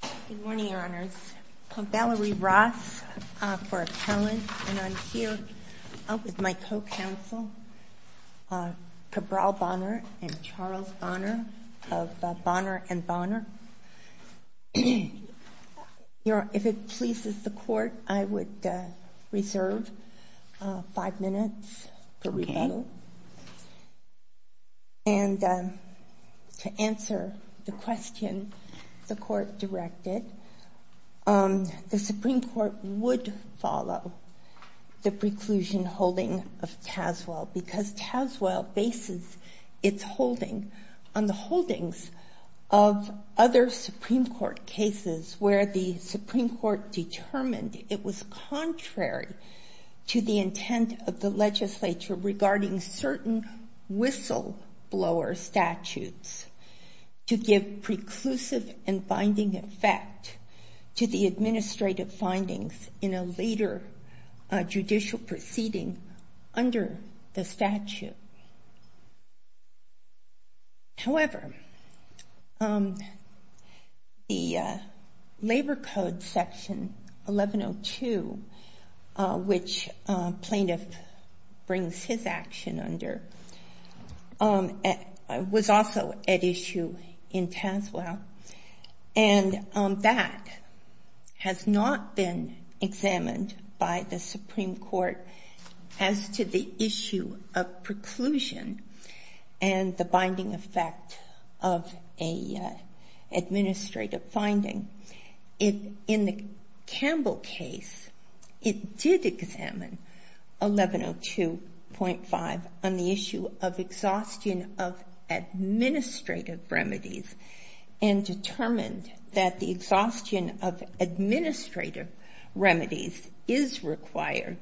Good morning, Your Honors. I'm Valerie Ross, for appellant, and I'm here with my co-counsel Cabral Bonner and Charles Bonner of Bonner & Bonner. If it pleases the Court, I would reserve five minutes for rebuttal. To answer the question the Court directed, the Supreme Court would follow the preclusion holding of Tazewell because Tazewell bases its holding on the holdings of other Supreme Court cases where the Supreme Court determined it was contrary to the intent of the legislature regarding certain whistleblower statutes to give preclusive and binding effect to the administrative findings in a later judicial proceeding under the statute. However, the Labor Code Section 1102, which plaintiff brings his action under, was also at issue in Tazewell, and that has not been examined by the Supreme Court as to the issue of preclusion and the binding effect of an administrative finding. In the Campbell case, it did examine 1102.5 on the issue of exhaustion of administrative remedies and determined that the exhaustion of administrative remedies is required.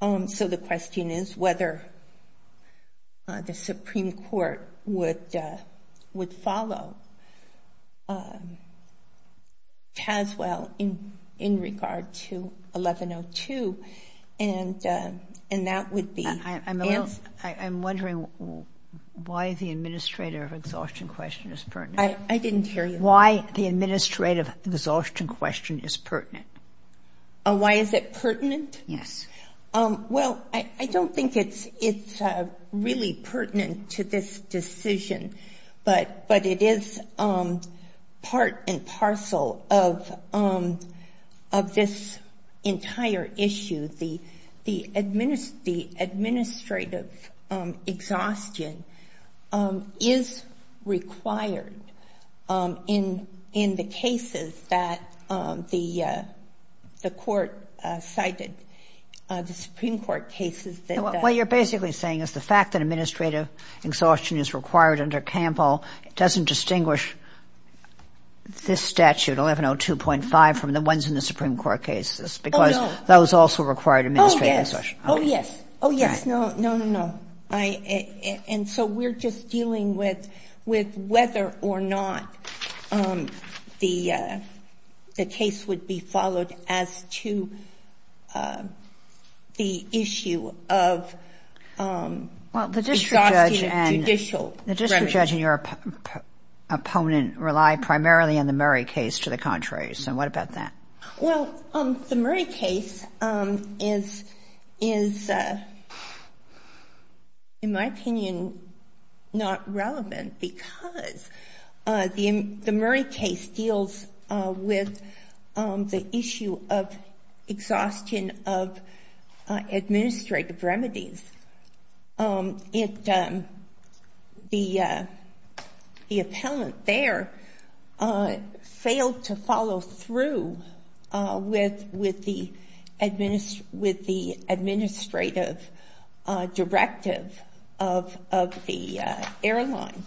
So the question is whether the Supreme Court would follow Tazewell in regard to 1102, and that would be answered. I'm wondering why the administrative exhaustion question is pertinent. I didn't hear you. Why the administrative exhaustion question is pertinent. Why is it pertinent? Yes. Well, I don't think it's really pertinent to this decision, but it is part and parcel of this entire issue. The administrative exhaustion is required in the cases that the Court cited, the Supreme Court cases that the Court cited. What you're basically saying is the fact that administrative exhaustion is required under Campbell doesn't distinguish this statute, 1102.5, from the ones in the Supreme Court cases. Oh, no. That was also a required administrative exhaustion. Oh, yes. Oh, yes. Oh, yes. No, no, no. And so we're just dealing with whether or not the case would be followed as to the issue of exhaustion of judicial remedies. Well, the district judge and your opponent rely primarily on the Murray case to the contrary. So what about that? Well, the Murray case is, in my opinion, not relevant because the Murray case deals with the issue of exhaustion of administrative remedies. The appellant there failed to follow through with the administrative directive of the airline.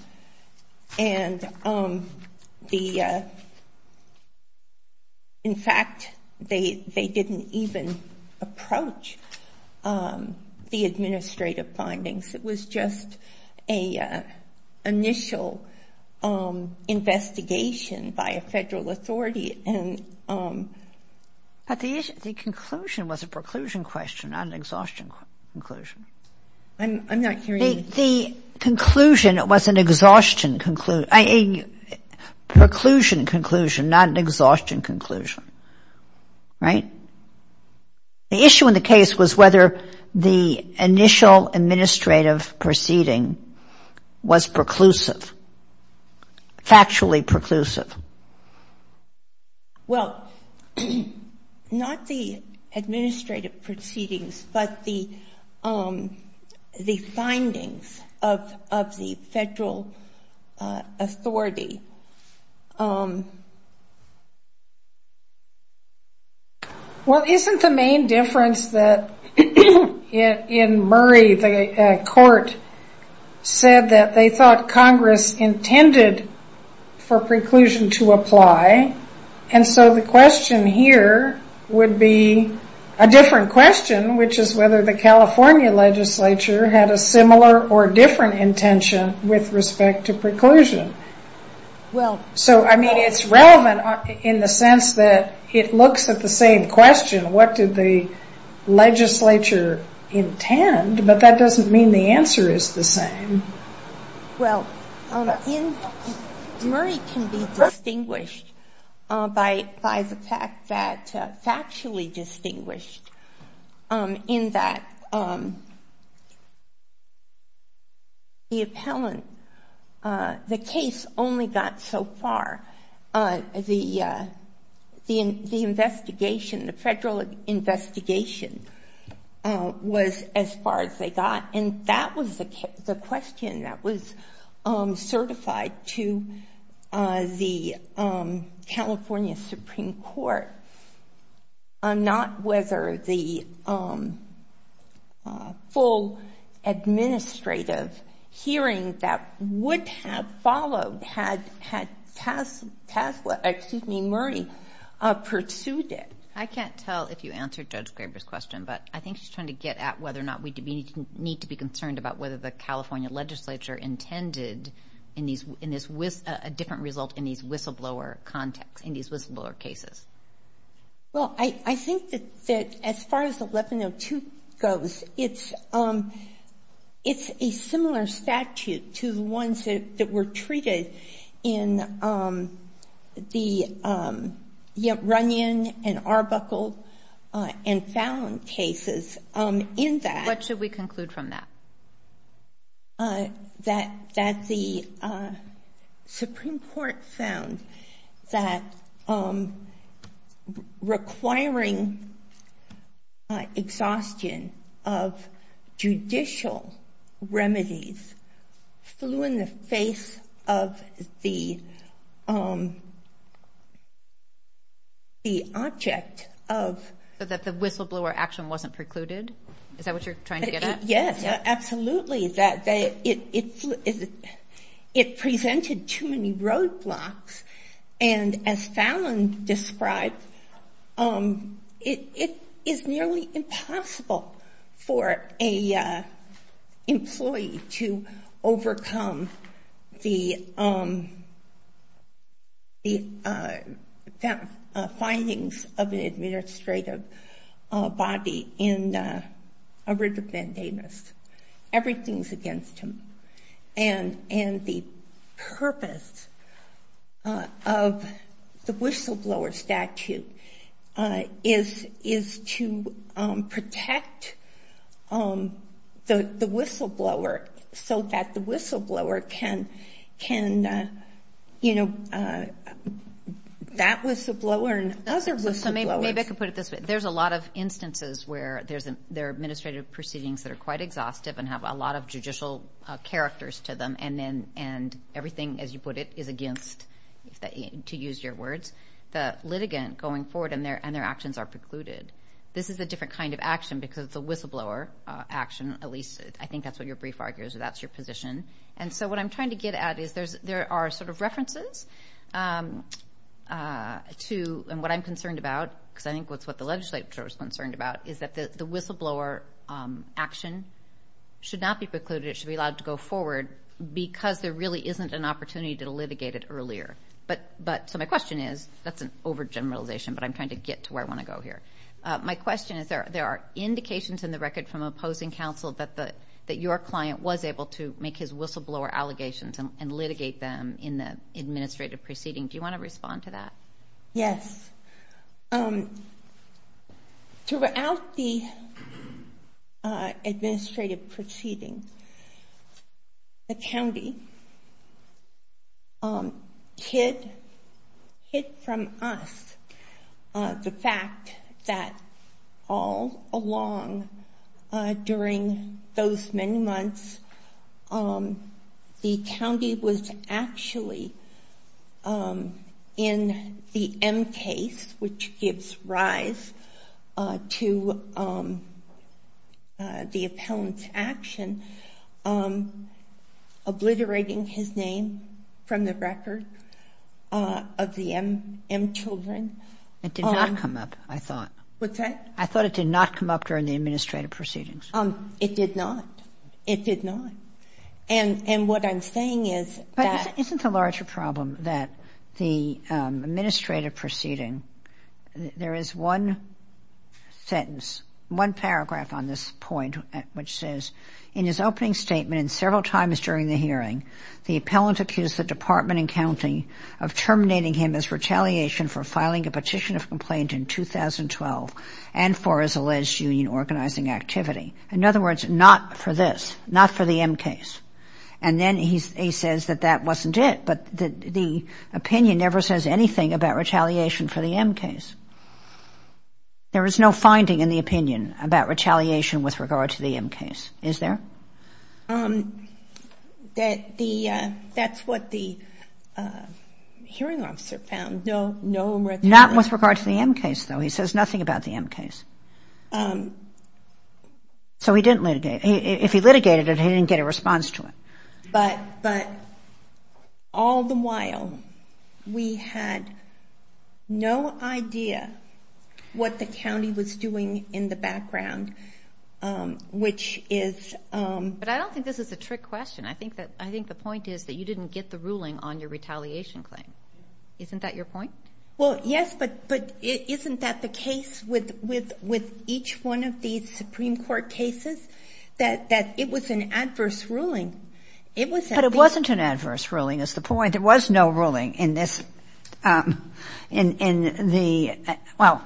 And in fact, they didn't even approach the administrative findings. It was just an initial investigation by a federal authority. But the conclusion was a preclusion question, not an exhaustion conclusion. I'm not hearing you. The conclusion was a preclusion conclusion, not an exhaustion conclusion, right? The issue in the case was whether the initial administrative proceeding was preclusive, factually preclusive. Well, not the administrative proceedings, but the findings of the federal authority. Well, isn't the main difference that in Murray, the court said that they thought Congress intended for preclusion to apply. And so the question here would be a different question, which is whether the California legislature had a similar or different intention with respect to preclusion. So, I mean, it's relevant in the sense that it looks at the same question. What did the legislature intend? But that doesn't mean the answer is the same. Well, Murray can be distinguished by the fact that, factually distinguished, in that the appellant, the case only got so far. The investigation, the federal investigation was as far as they got. And that was the question that was certified to the California Supreme Court, not whether the full administrative hearing that would have followed had Murray pursued it. I can't tell if you answered Judge Graber's question, but I think she's trying to get at whether or not we need to be concerned about whether the California legislature intended a different result in these whistleblower cases. Well, I think that as far as 1102 goes, it's a similar statute to the ones that were treated in the Runyon and Arbuckle and Fallon cases. What should we conclude from that? That the Supreme Court found that requiring exhaustion of judicial remedies flew in the face of the object of... So that the whistleblower action wasn't precluded? Is that what you're trying to get at? Yes, absolutely. That it presented too many roadblocks, and as Fallon described, it is nearly impossible for an employee to overcome the findings of an administrative body in a writ of mandamus. Everything's against him. And the purpose of the whistleblower statute is to protect the whistleblower so that the whistleblower can... That whistleblower and other whistleblowers... So maybe I could put it this way. There's a lot of instances where there are administrative proceedings that are quite exhaustive and have a lot of judicial characters to them, and everything, as you put it, is against, to use your words, the litigant going forward and their actions are precluded. This is a different kind of action because it's a whistleblower action, at least I think that's what your brief argues, or that's your position. And so what I'm trying to get at is there are sort of references to... And what I'm concerned about, because I think that's what the legislature is concerned about, is that the whistleblower action should not be precluded. It should be allowed to go forward because there really isn't an opportunity to litigate it earlier. So my question is... That's an overgeneralization, but I'm trying to get to where I want to go here. My question is there are indications in the record from opposing counsel that your client was able to make his whistleblower allegations and litigate them in the administrative proceeding. Do you want to respond to that? Yes. Throughout the administrative proceeding, the county hid from us the fact that all along during those many months, the county was actually in the M case, which gives rise to the appellant's action, obliterating his name from the record of the M children. It did not come up, I thought. What's that? I thought it did not come up during the administrative proceedings. It did not. It did not. And what I'm saying is that... But isn't the larger problem that the administrative proceeding, there is one sentence, one paragraph on this point, which says, In his opening statement and several times during the hearing, the appellant accused the department and county of terminating him as retaliation for filing a petition of complaint in 2012 and for his alleged union organizing activity. In other words, not for this, not for the M case. And then he says that that wasn't it, but the opinion never says anything about retaliation for the M case. There is no finding in the opinion about retaliation with regard to the M case, is there? That the, that's what the hearing officer found. Not with regard to the M case, though. He says nothing about the M case. So he didn't litigate. If he litigated it, he didn't get a response to it. But all the while, we had no idea what the county was doing in the background, which is... But I don't think this is a trick question. I think the point is that you didn't get the ruling on your retaliation claim. Isn't that your point? Well, yes, but isn't that the case with each one of these Supreme Court cases? That it was an adverse ruling. But it wasn't an adverse ruling, is the point. There was no ruling in this, in the, well,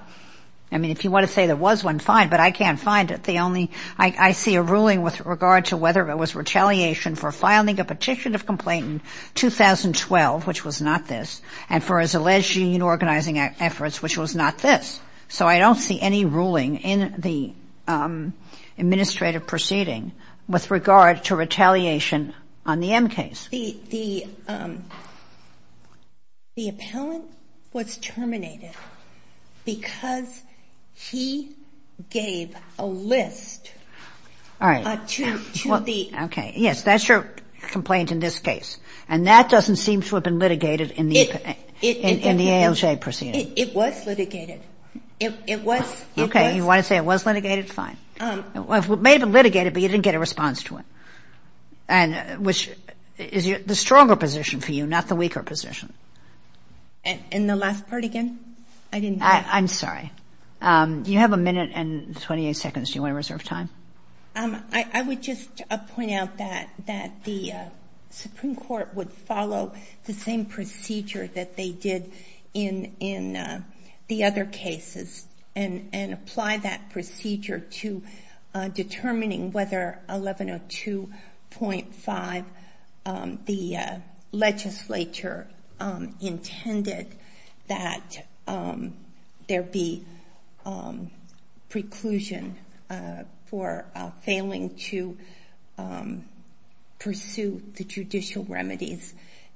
I mean, if you want to say there was one, fine, but I can't find it. The only, I see a ruling with regard to whether it was retaliation for filing a petition of complaint in 2012, which was not this, and for his alleged union organizing efforts, which was not this. So I don't see any ruling in the administrative proceeding with regard to retaliation on the M case. The appellant was terminated because he gave a list to the... In the ALJ proceeding. It was litigated. It was. Okay, you want to say it was litigated, fine. It may have been litigated, but you didn't get a response to it, which is the stronger position for you, not the weaker position. And the last part again? I didn't get it. I'm sorry. You have a minute and 28 seconds. Do you want to reserve time? I would just point out that the Supreme Court would follow the same procedure that they did in the other cases and apply that procedure to determining whether 1102.5, the legislature intended that there be preclusion for failing to pursue the judicial remedies.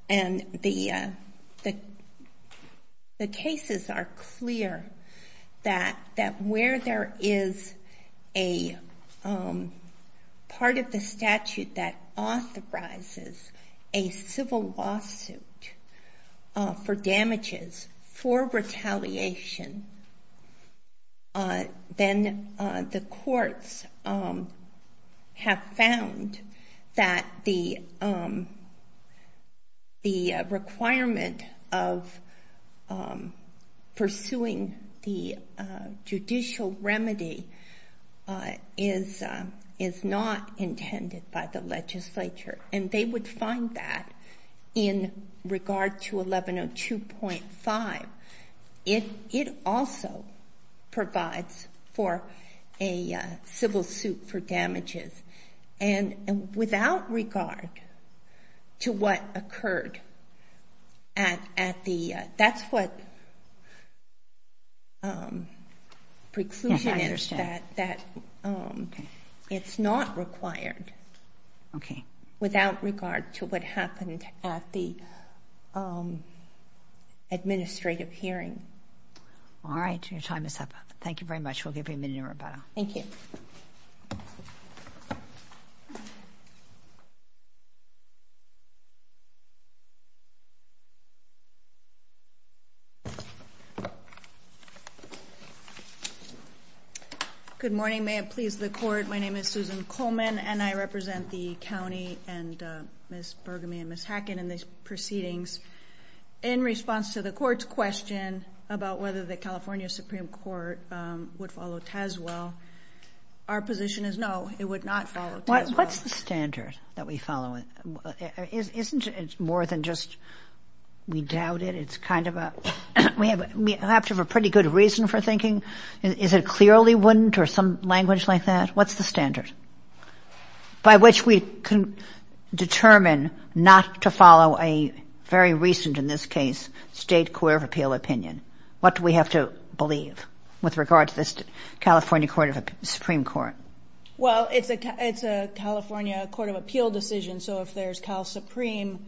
And the cases are clear that where there is a part of the statute that authorizes a civil lawsuit for damages for retaliation, then the courts have found that the requirement of pursuing the judicial remedy is not intended by the legislature. And they would find that in regard to 1102.5. It also provides for a civil suit for damages. And without regard to what occurred at the, that's what preclusion is, that it's not required. Okay. Without regard to what happened at the administrative hearing. All right, your time is up. Thank you very much. We'll give you a minute, Roberta. Thank you. Thank you. Good morning. May it please the court, my name is Susan Coleman and I represent the county and Ms. Burgamy and Ms. Hackett in these proceedings. In response to the court's question about whether the California Supreme Court would follow TASWELL, our position is no, it would not follow TASWELL. What's the standard that we follow? Isn't it more than just we doubt it? It's kind of a, we have to have a pretty good reason for thinking, is it clearly wouldn't or some language like that? What's the standard by which we can determine not to follow a very recent, in this case, state court of appeal opinion? What do we have to believe with regard to this California Supreme Court? Well, it's a California court of appeal decision. So if there's Cal Supreme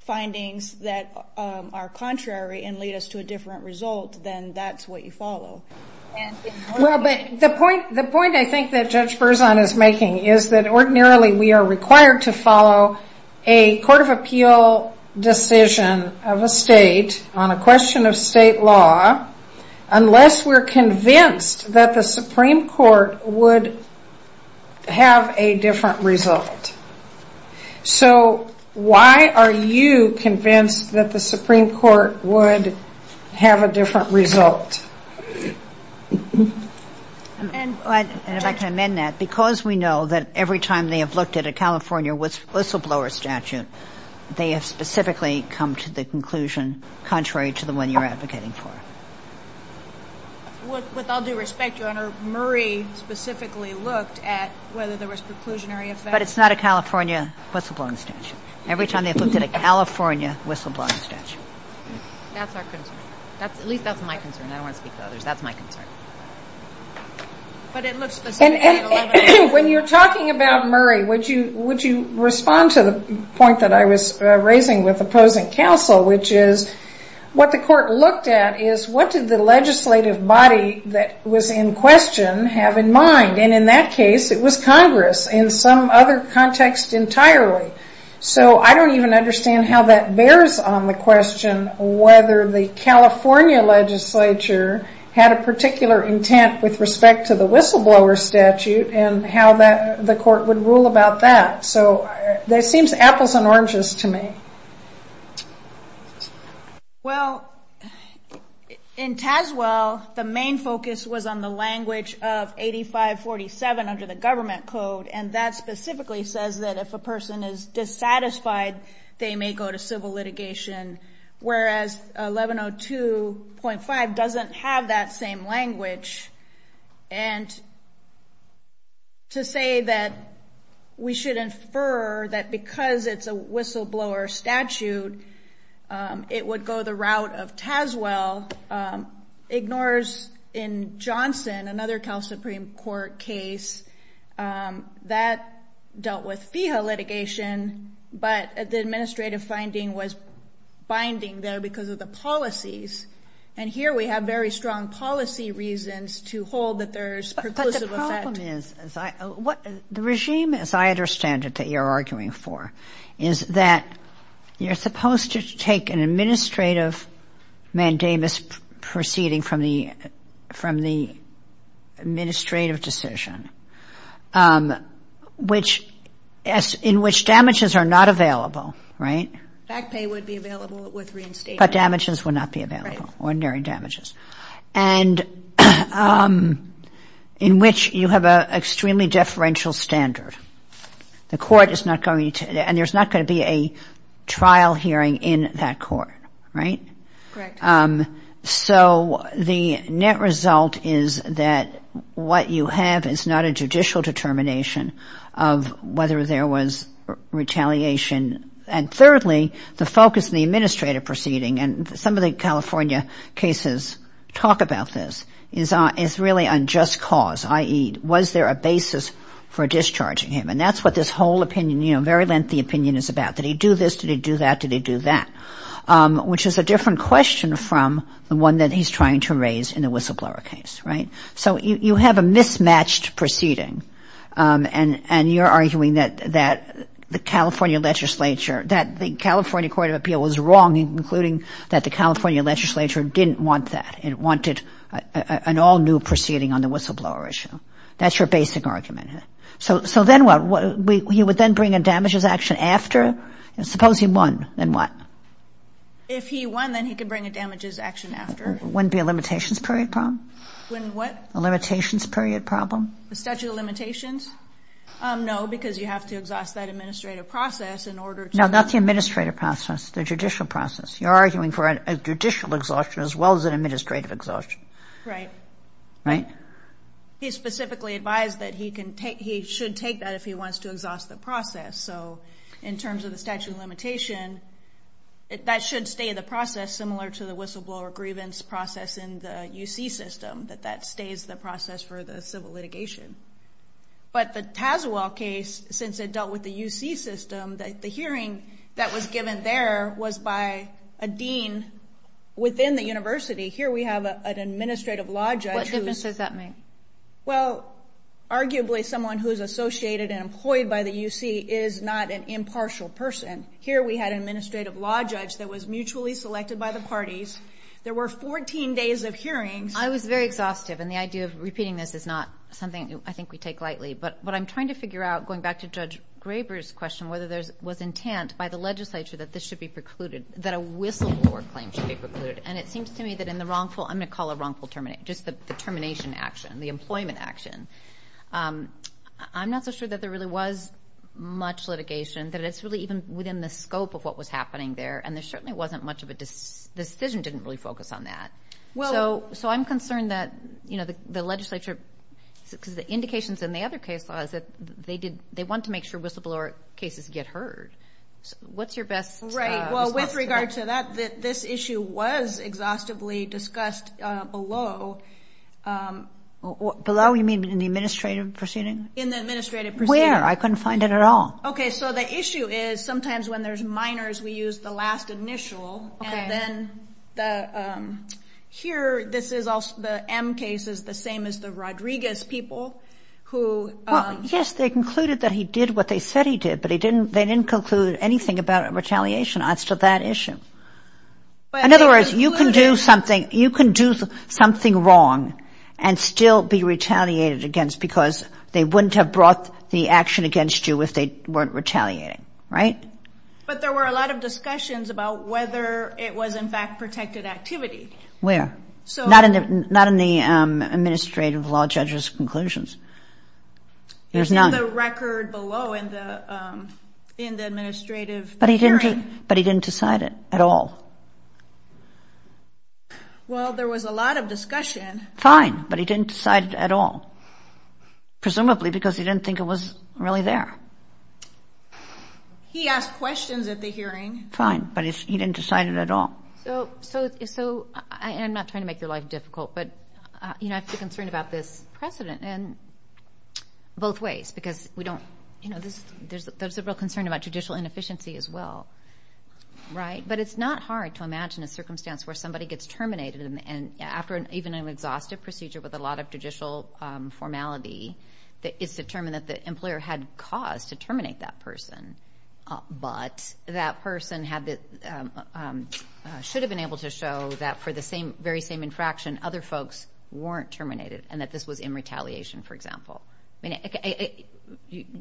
findings that are contrary and lead us to a different result, then that's what you follow. Well, but the point I think that Judge Berzon is making is that ordinarily we are required to follow a court of appeal decision of a state on a question of state law unless we're convinced that the Supreme Court would have a different result. So why are you convinced that the Supreme Court would have a different result? And if I can amend that, because we know that every time they have looked at a California whistleblower statute, they have specifically come to the conclusion contrary to the one you're advocating for. With all due respect, Your Honor, Murray specifically looked at whether there was preclusionary effect. But it's not a California whistleblowing statute. Every time they've looked at a California whistleblowing statute. That's our concern. At least that's my concern. I don't want to speak to others. That's my concern. But it looks to the Supreme Court 11- And when you're talking about Murray, would you respond to the point that I was raising with opposing counsel, which is what the court looked at is what did the legislative body that was in question have in mind? And in that case, it was Congress in some other context entirely. So I don't even understand how that bears on the question whether the California legislature had a particular intent with respect to the whistleblower statute and how the court would rule about that. So that seems apples and oranges to me. Well, in Tazewell, the main focus was on the language of 8547 under the government code. And that specifically says that if a person is dissatisfied, they may go to civil litigation. Whereas 1102.5 doesn't have that same language. And to say that we should infer that because it's a whistleblower statute, it would go the route of Tazewell ignores in Johnson, another Cal Supreme Court case that dealt with FIHA litigation. But the administrative finding was binding there because of the policies. And here we have very strong policy reasons to hold that there's perclusive effect. But the problem is what the regime, as I understand it, that you're arguing for, is that you're supposed to take an administrative mandamus proceeding from the administrative decision, in which damages are not available, right? Fact pay would be available with reinstatement. But damages would not be available, ordinary damages. And in which you have an extremely deferential standard. The court is not going to, and there's not going to be a trial hearing in that court, right? Correct. So the net result is that what you have is not a judicial determination of whether there was retaliation. And thirdly, the focus of the administrative proceeding, and some of the California cases talk about this, is really on just cause, i.e., was there a basis for discharging him? And that's what this whole opinion, you know, very lengthy opinion is about. Did he do this? Did he do that? Did he do that? Which is a different question from the one that he's trying to raise in the whistleblower case, right? So you have a mismatched proceeding. And you're arguing that the California legislature, that the California Court of Appeal was wrong in concluding that the California legislature didn't want that and wanted an all-new proceeding on the whistleblower issue. That's your basic argument. So then what? He would then bring a damages action after? Suppose he won, then what? If he won, then he could bring a damages action after. Wouldn't it be a limitations period problem? When what? A limitations period problem. The statute of limitations? No, because you have to exhaust that administrative process in order to... No, not the administrative process, the judicial process. You're arguing for a judicial exhaustion as well as an administrative exhaustion. Right. Right? He specifically advised that he should take that if he wants to exhaust the process. So in terms of the statute of limitation, that should stay in the process, similar to the whistleblower grievance process in the UC system, that that stays the process for the civil litigation. But the Tazewell case, since it dealt with the UC system, the hearing that was given there was by a dean within the university. Here we have an administrative law judge. What difference does that make? Well, arguably someone who is associated and employed by the UC is not an impartial person. Here we had an administrative law judge that was mutually selected by the parties. There were 14 days of hearings. I was very exhaustive, and the idea of repeating this is not something I think we take lightly. But what I'm trying to figure out, going back to Judge Graber's question, whether there was intent by the legislature that this should be precluded, that a whistleblower claim should be precluded. And it seems to me that in the wrongful, I'm going to call it wrongful termination, just the termination action, the employment action. I'm not so sure that there really was much litigation, that it's really even within the scope of what was happening there, and there certainly wasn't much of a decision didn't really focus on that. So I'm concerned that the legislature, because the indications in the other case law is that they want to make sure whistleblower cases get heard. What's your best assessment? Right. Well, with regard to that, this issue was exhaustively discussed below. Below? You mean in the administrative proceeding? In the administrative proceeding. Where? I couldn't find it at all. Okay. So the issue is sometimes when there's minors, we use the last initial, and then here this is also the M case is the same as the Rodriguez people who. Well, yes, they concluded that he did what they said he did, but they didn't conclude anything about retaliation as to that issue. In other words, you can do something wrong and still be retaliated against because they wouldn't have brought the action against you if they weren't retaliating, right? But there were a lot of discussions about whether it was, in fact, protected activity. Where? Not in the administrative law judge's conclusions. There's none. It's in the record below in the administrative hearing. But he didn't decide it at all. Well, there was a lot of discussion. Fine, but he didn't decide it at all, presumably because he didn't think it was really there. He asked questions at the hearing. Fine, but he didn't decide it at all. So I'm not trying to make your life difficult, but I have a concern about this precedent in both ways because there's a real concern about judicial inefficiency as well, right? But it's not hard to imagine a circumstance where somebody gets terminated and after even an exhaustive procedure with a lot of judicial formality it's determined that the employer had cause to terminate that person, but that person should have been able to show that for the very same infraction other folks weren't terminated and that this was in retaliation, for example. You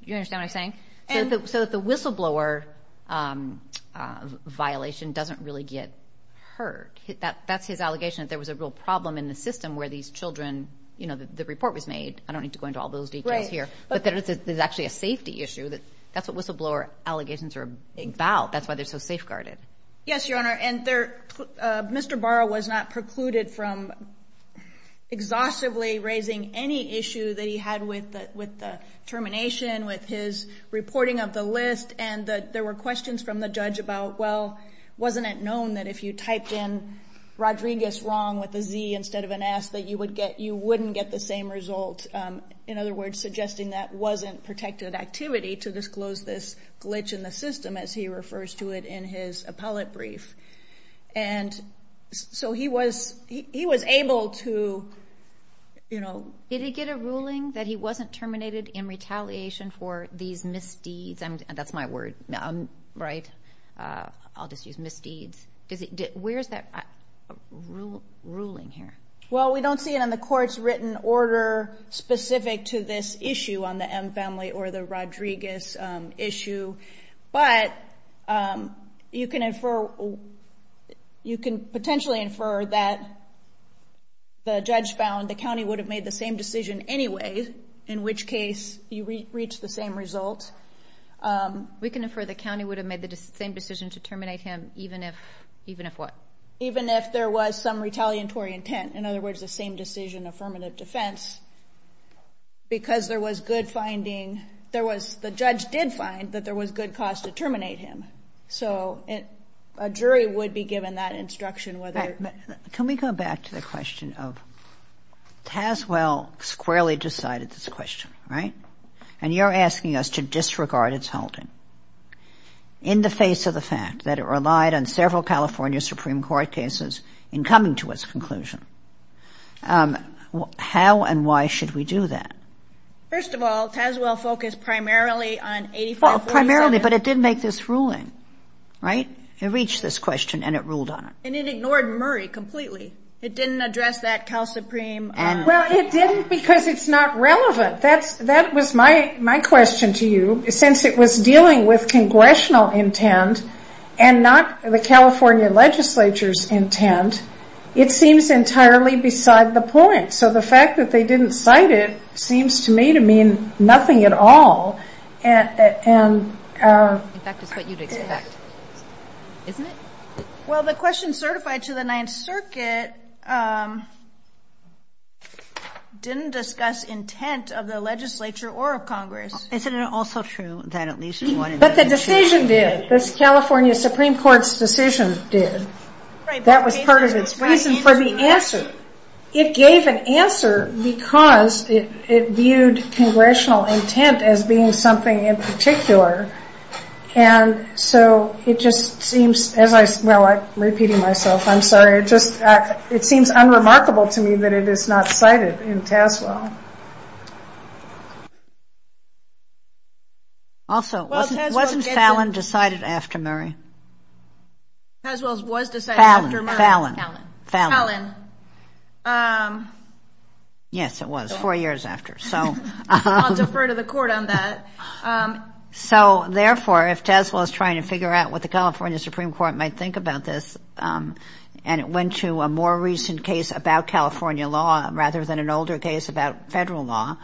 understand what I'm saying? So the whistleblower violation doesn't really get heard. That's his allegation that there was a real problem in the system where these children, you know, the report was made. I don't need to go into all those details here. But there's actually a safety issue. That's what whistleblower allegations are about. That's why they're so safeguarded. Yes, Your Honor, and Mr. Barrow was not precluded from exhaustively raising any issue that he had with the termination, with his reporting of the list, and there were questions from the judge about, well, wasn't it known that if you typed in Rodriguez wrong with a Z instead of an S that you wouldn't get the same result, in other words, suggesting that wasn't protected activity to disclose this glitch in the system, as he refers to it in his appellate brief. And so he was able to, you know. Did he get a ruling that he wasn't terminated in retaliation for these misdeeds? That's my word, right? I'll just use misdeeds. Where is that ruling here? Well, we don't see it on the court's written order specific to this issue on the M family or the Rodriguez issue, but you can infer, you can potentially infer that the judge found the county would have made the same decision anyway, in which case you reach the same result. We can infer the county would have made the same decision to terminate him even if what? Even if there was some retaliatory intent, in other words, the same decision affirmative defense, because there was good finding, there was, the judge did find that there was good cause to terminate him. So a jury would be given that instruction whether. Can we go back to the question of Tazewell squarely decided this question, right? And you're asking us to disregard its holding in the face of the fact that it relied on several California Supreme Court cases in coming to its conclusion. How and why should we do that? First of all, Tazewell focused primarily on 8547. Primarily, but it did make this ruling, right? It reached this question and it ruled on it. And it ignored Murray completely. It didn't address that Cal Supreme. Well, it didn't because it's not relevant. That was my question to you. Since it was dealing with congressional intent and not the California legislature's intent, it seems entirely beside the point. So the fact that they didn't cite it seems to me to mean nothing at all. In fact, it's what you'd expect, isn't it? Well, the question certified to the Ninth Circuit didn't discuss intent of the legislature or of Congress. Isn't it also true that at least one of the decisions did? But the decision did. This California Supreme Court's decision did. That was part of its reason for the answer. It gave an answer because it viewed congressional intent as being something in particular. And so it just seems, well, I'm repeating myself. I'm sorry. It seems unremarkable to me that it is not cited in Tazewell. Also, wasn't Fallon decided after Murray? Tazewell was decided after Murray. Fallon. Fallon. Yes, it was, four years after. I'll defer to the court on that. So, therefore, if Tazewell is trying to figure out what the California Supreme Court might think about this and it went to a more recent case about California law rather than an older case about federal law,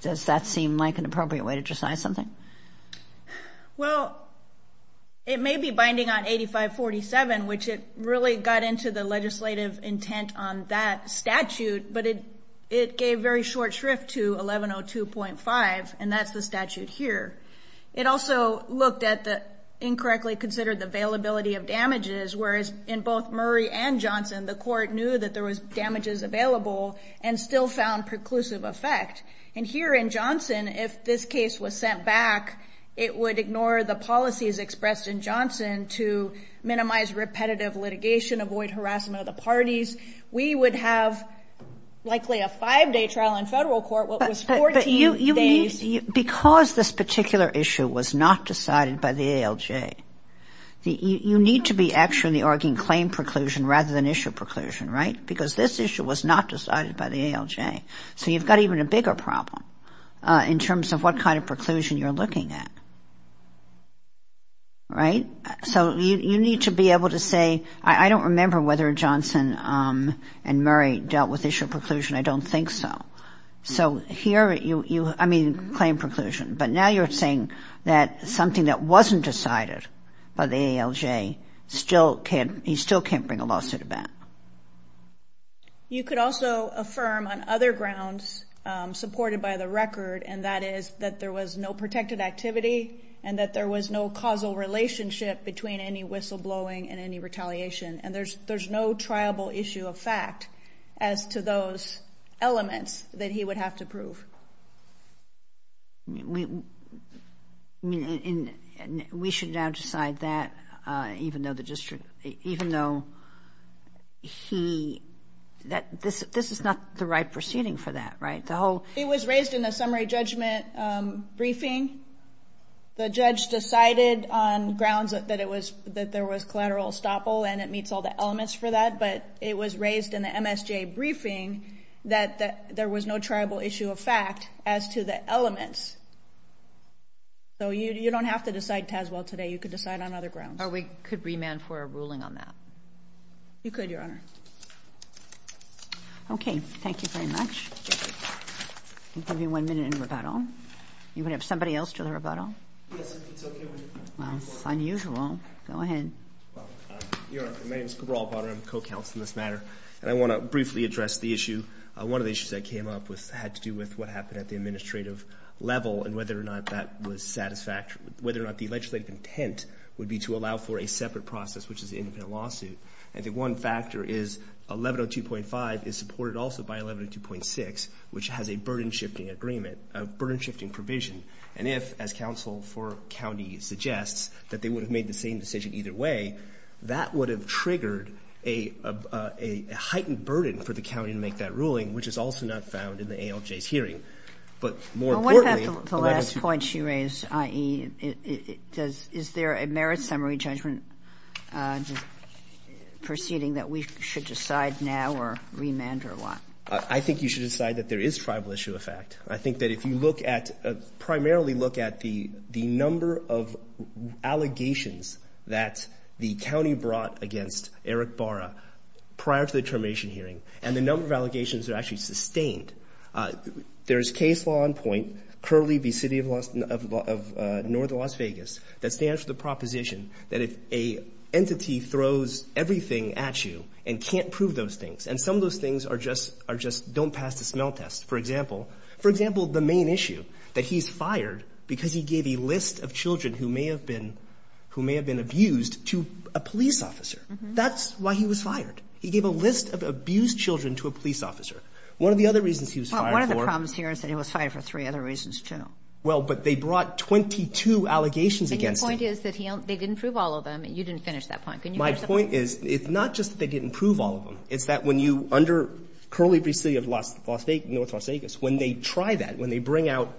does that seem like an appropriate way to decide something? Well, it may be binding on 8547, which it really got into the legislative intent on that statute, but it gave very short shrift to 1102.5, and that's the statute here. It also looked at the incorrectly considered availability of damages, whereas in both Murray and Johnson, the court knew that there was damages available and still found preclusive effect. And here in Johnson, if this case was sent back, it would ignore the policies expressed in Johnson to minimize repetitive litigation, avoid harassment of the parties. We would have likely a five-day trial in federal court, what was 14 days. But you need, because this particular issue was not decided by the ALJ, you need to be actually arguing claim preclusion rather than issue preclusion, right? Because this issue was not decided by the ALJ. So you've got even a bigger problem in terms of what kind of preclusion you're looking at, right? So you need to be able to say, I don't remember whether Johnson and Murray dealt with issue preclusion, I don't think so. So here you, I mean, claim preclusion, but now you're saying that something that wasn't decided by the ALJ still can't, you still can't bring a lawsuit back. You could also affirm on other grounds supported by the record, and that is that there was no protected activity and that there was no causal relationship between any whistleblowing and any retaliation. And there's no triable issue of fact as to those elements that he would have to prove. We should now decide that even though the district, even though he, this is not the right proceeding for that, right? It was raised in the summary judgment briefing. The judge decided on grounds that there was collateral estoppel and it meets all the elements for that, but it was raised in the MSJA briefing that there was no triable issue of fact as to the elements. So you don't have to decide Tazwell today. You could decide on other grounds. Or we could remand for a ruling on that. You could, Your Honor. Okay. Thank you very much. I'll give you one minute in rebuttal. You're going to have somebody else do the rebuttal? Yes, if it's okay with you. Well, it's unusual. Go ahead. Your Honor, my name is Cabral Bonner. I'm a co-counsel in this matter. And I want to briefly address the issue. One of the issues that came up had to do with what happened at the administrative level and whether or not that was satisfactory, whether or not the legislative intent would be to allow for a separate process, which is an independent lawsuit. And the one factor is 1102.5 is supported also by 1102.6, which has a burden-shifting agreement, a burden-shifting provision. And if, as counsel for county suggests, that they would have made the same decision either way, that would have triggered a heightened burden for the county to make that ruling, which is also not found in the ALJ's hearing. But more importantly, 1102. The point she raised, i.e., does — is there a merit summary judgment proceeding that we should decide now or remand or what? I think you should decide that there is tribal issue effect. I think that if you look at — primarily look at the number of allegations that the county brought against Eric Barra prior to the termination hearing and the number of allegations that are actually sustained, there is case law in point, currently the City of Northern Las Vegas, that stands for the proposition that if an entity throws everything at you and can't prove those things, and some of those things are just — don't pass the smell test, for example. For example, the main issue, that he's fired because he gave a list of children who may have been — who may have been abused to a police officer. That's why he was fired. He gave a list of abused children to a police officer. One of the other reasons he was fired for — Well, one of the problems here is that he was fired for three other reasons, too. Well, but they brought 22 allegations against him. And your point is that they didn't prove all of them. You didn't finish that point. Can you finish that point? My point is, it's not just that they didn't prove all of them. It's that when you — under currently the City of North Las Vegas, when they try that, when they bring out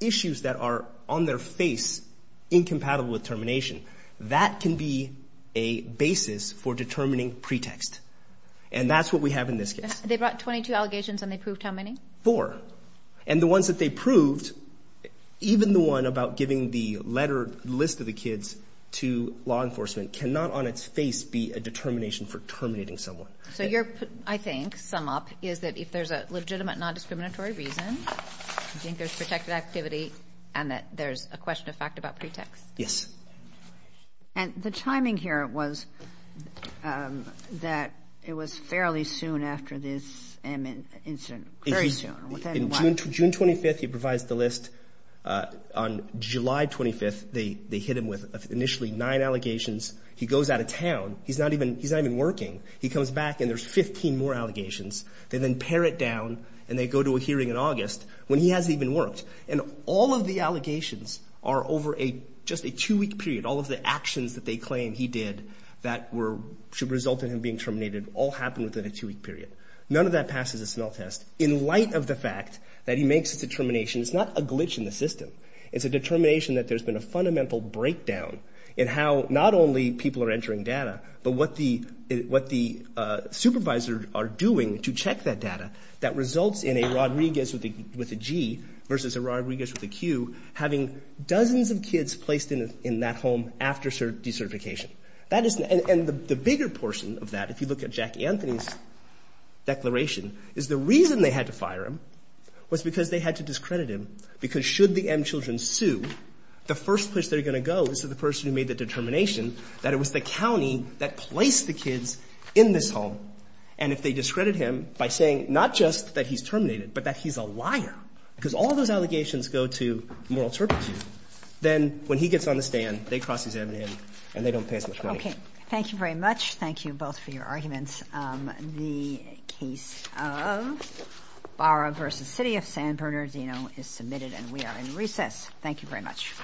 issues that are on their face incompatible with termination, that can be a basis for determining pretext. And that's what we have in this case. They brought 22 allegations, and they proved how many? Four. And the ones that they proved, even the one about giving the letter list of the kids to law enforcement, cannot on its face be a determination for terminating someone. So your, I think, sum-up is that if there's a legitimate non-discriminatory reason, you think there's protected activity, and that there's a question of fact about pretext. Yes. And the timing here was that it was fairly soon after this incident. Very soon. Within what? On June 25th, he provides the list. On July 25th, they hit him with initially nine allegations. He goes out of town. He's not even working. He comes back, and there's 15 more allegations. They then pare it down, and they go to a hearing in August when he hasn't even worked. And all of the allegations are over just a two-week period. All of the actions that they claim he did that should result in him being terminated all happened within a two-week period. None of that passes the smell test. In light of the fact that he makes this determination, it's not a glitch in the system. It's a determination that there's been a fundamental breakdown in how not only people are entering data, but what the supervisors are doing to check that data that results in a Rodriguez with a G versus a Rodriguez with a Q having dozens of kids placed in that home after decertification. And the bigger portion of that, if you look at Jack Anthony's declaration, is the reason they had to fire him was because they had to discredit him, because should the M children sue, the first place they're going to go is to the person who made the determination that it was the county that placed the kids in this home. And if they discredit him by saying not just that he's terminated, but that he's a liar, because all those allegations go to moral turpitude, then when he gets on the stand, they cross his head on him, and they don't pay as much money. Okay. Thank you very much. Thank you both for your arguments. The case of Barra v. City of San Bernardino is submitted, and we are in recess. Thank you very much. All rise.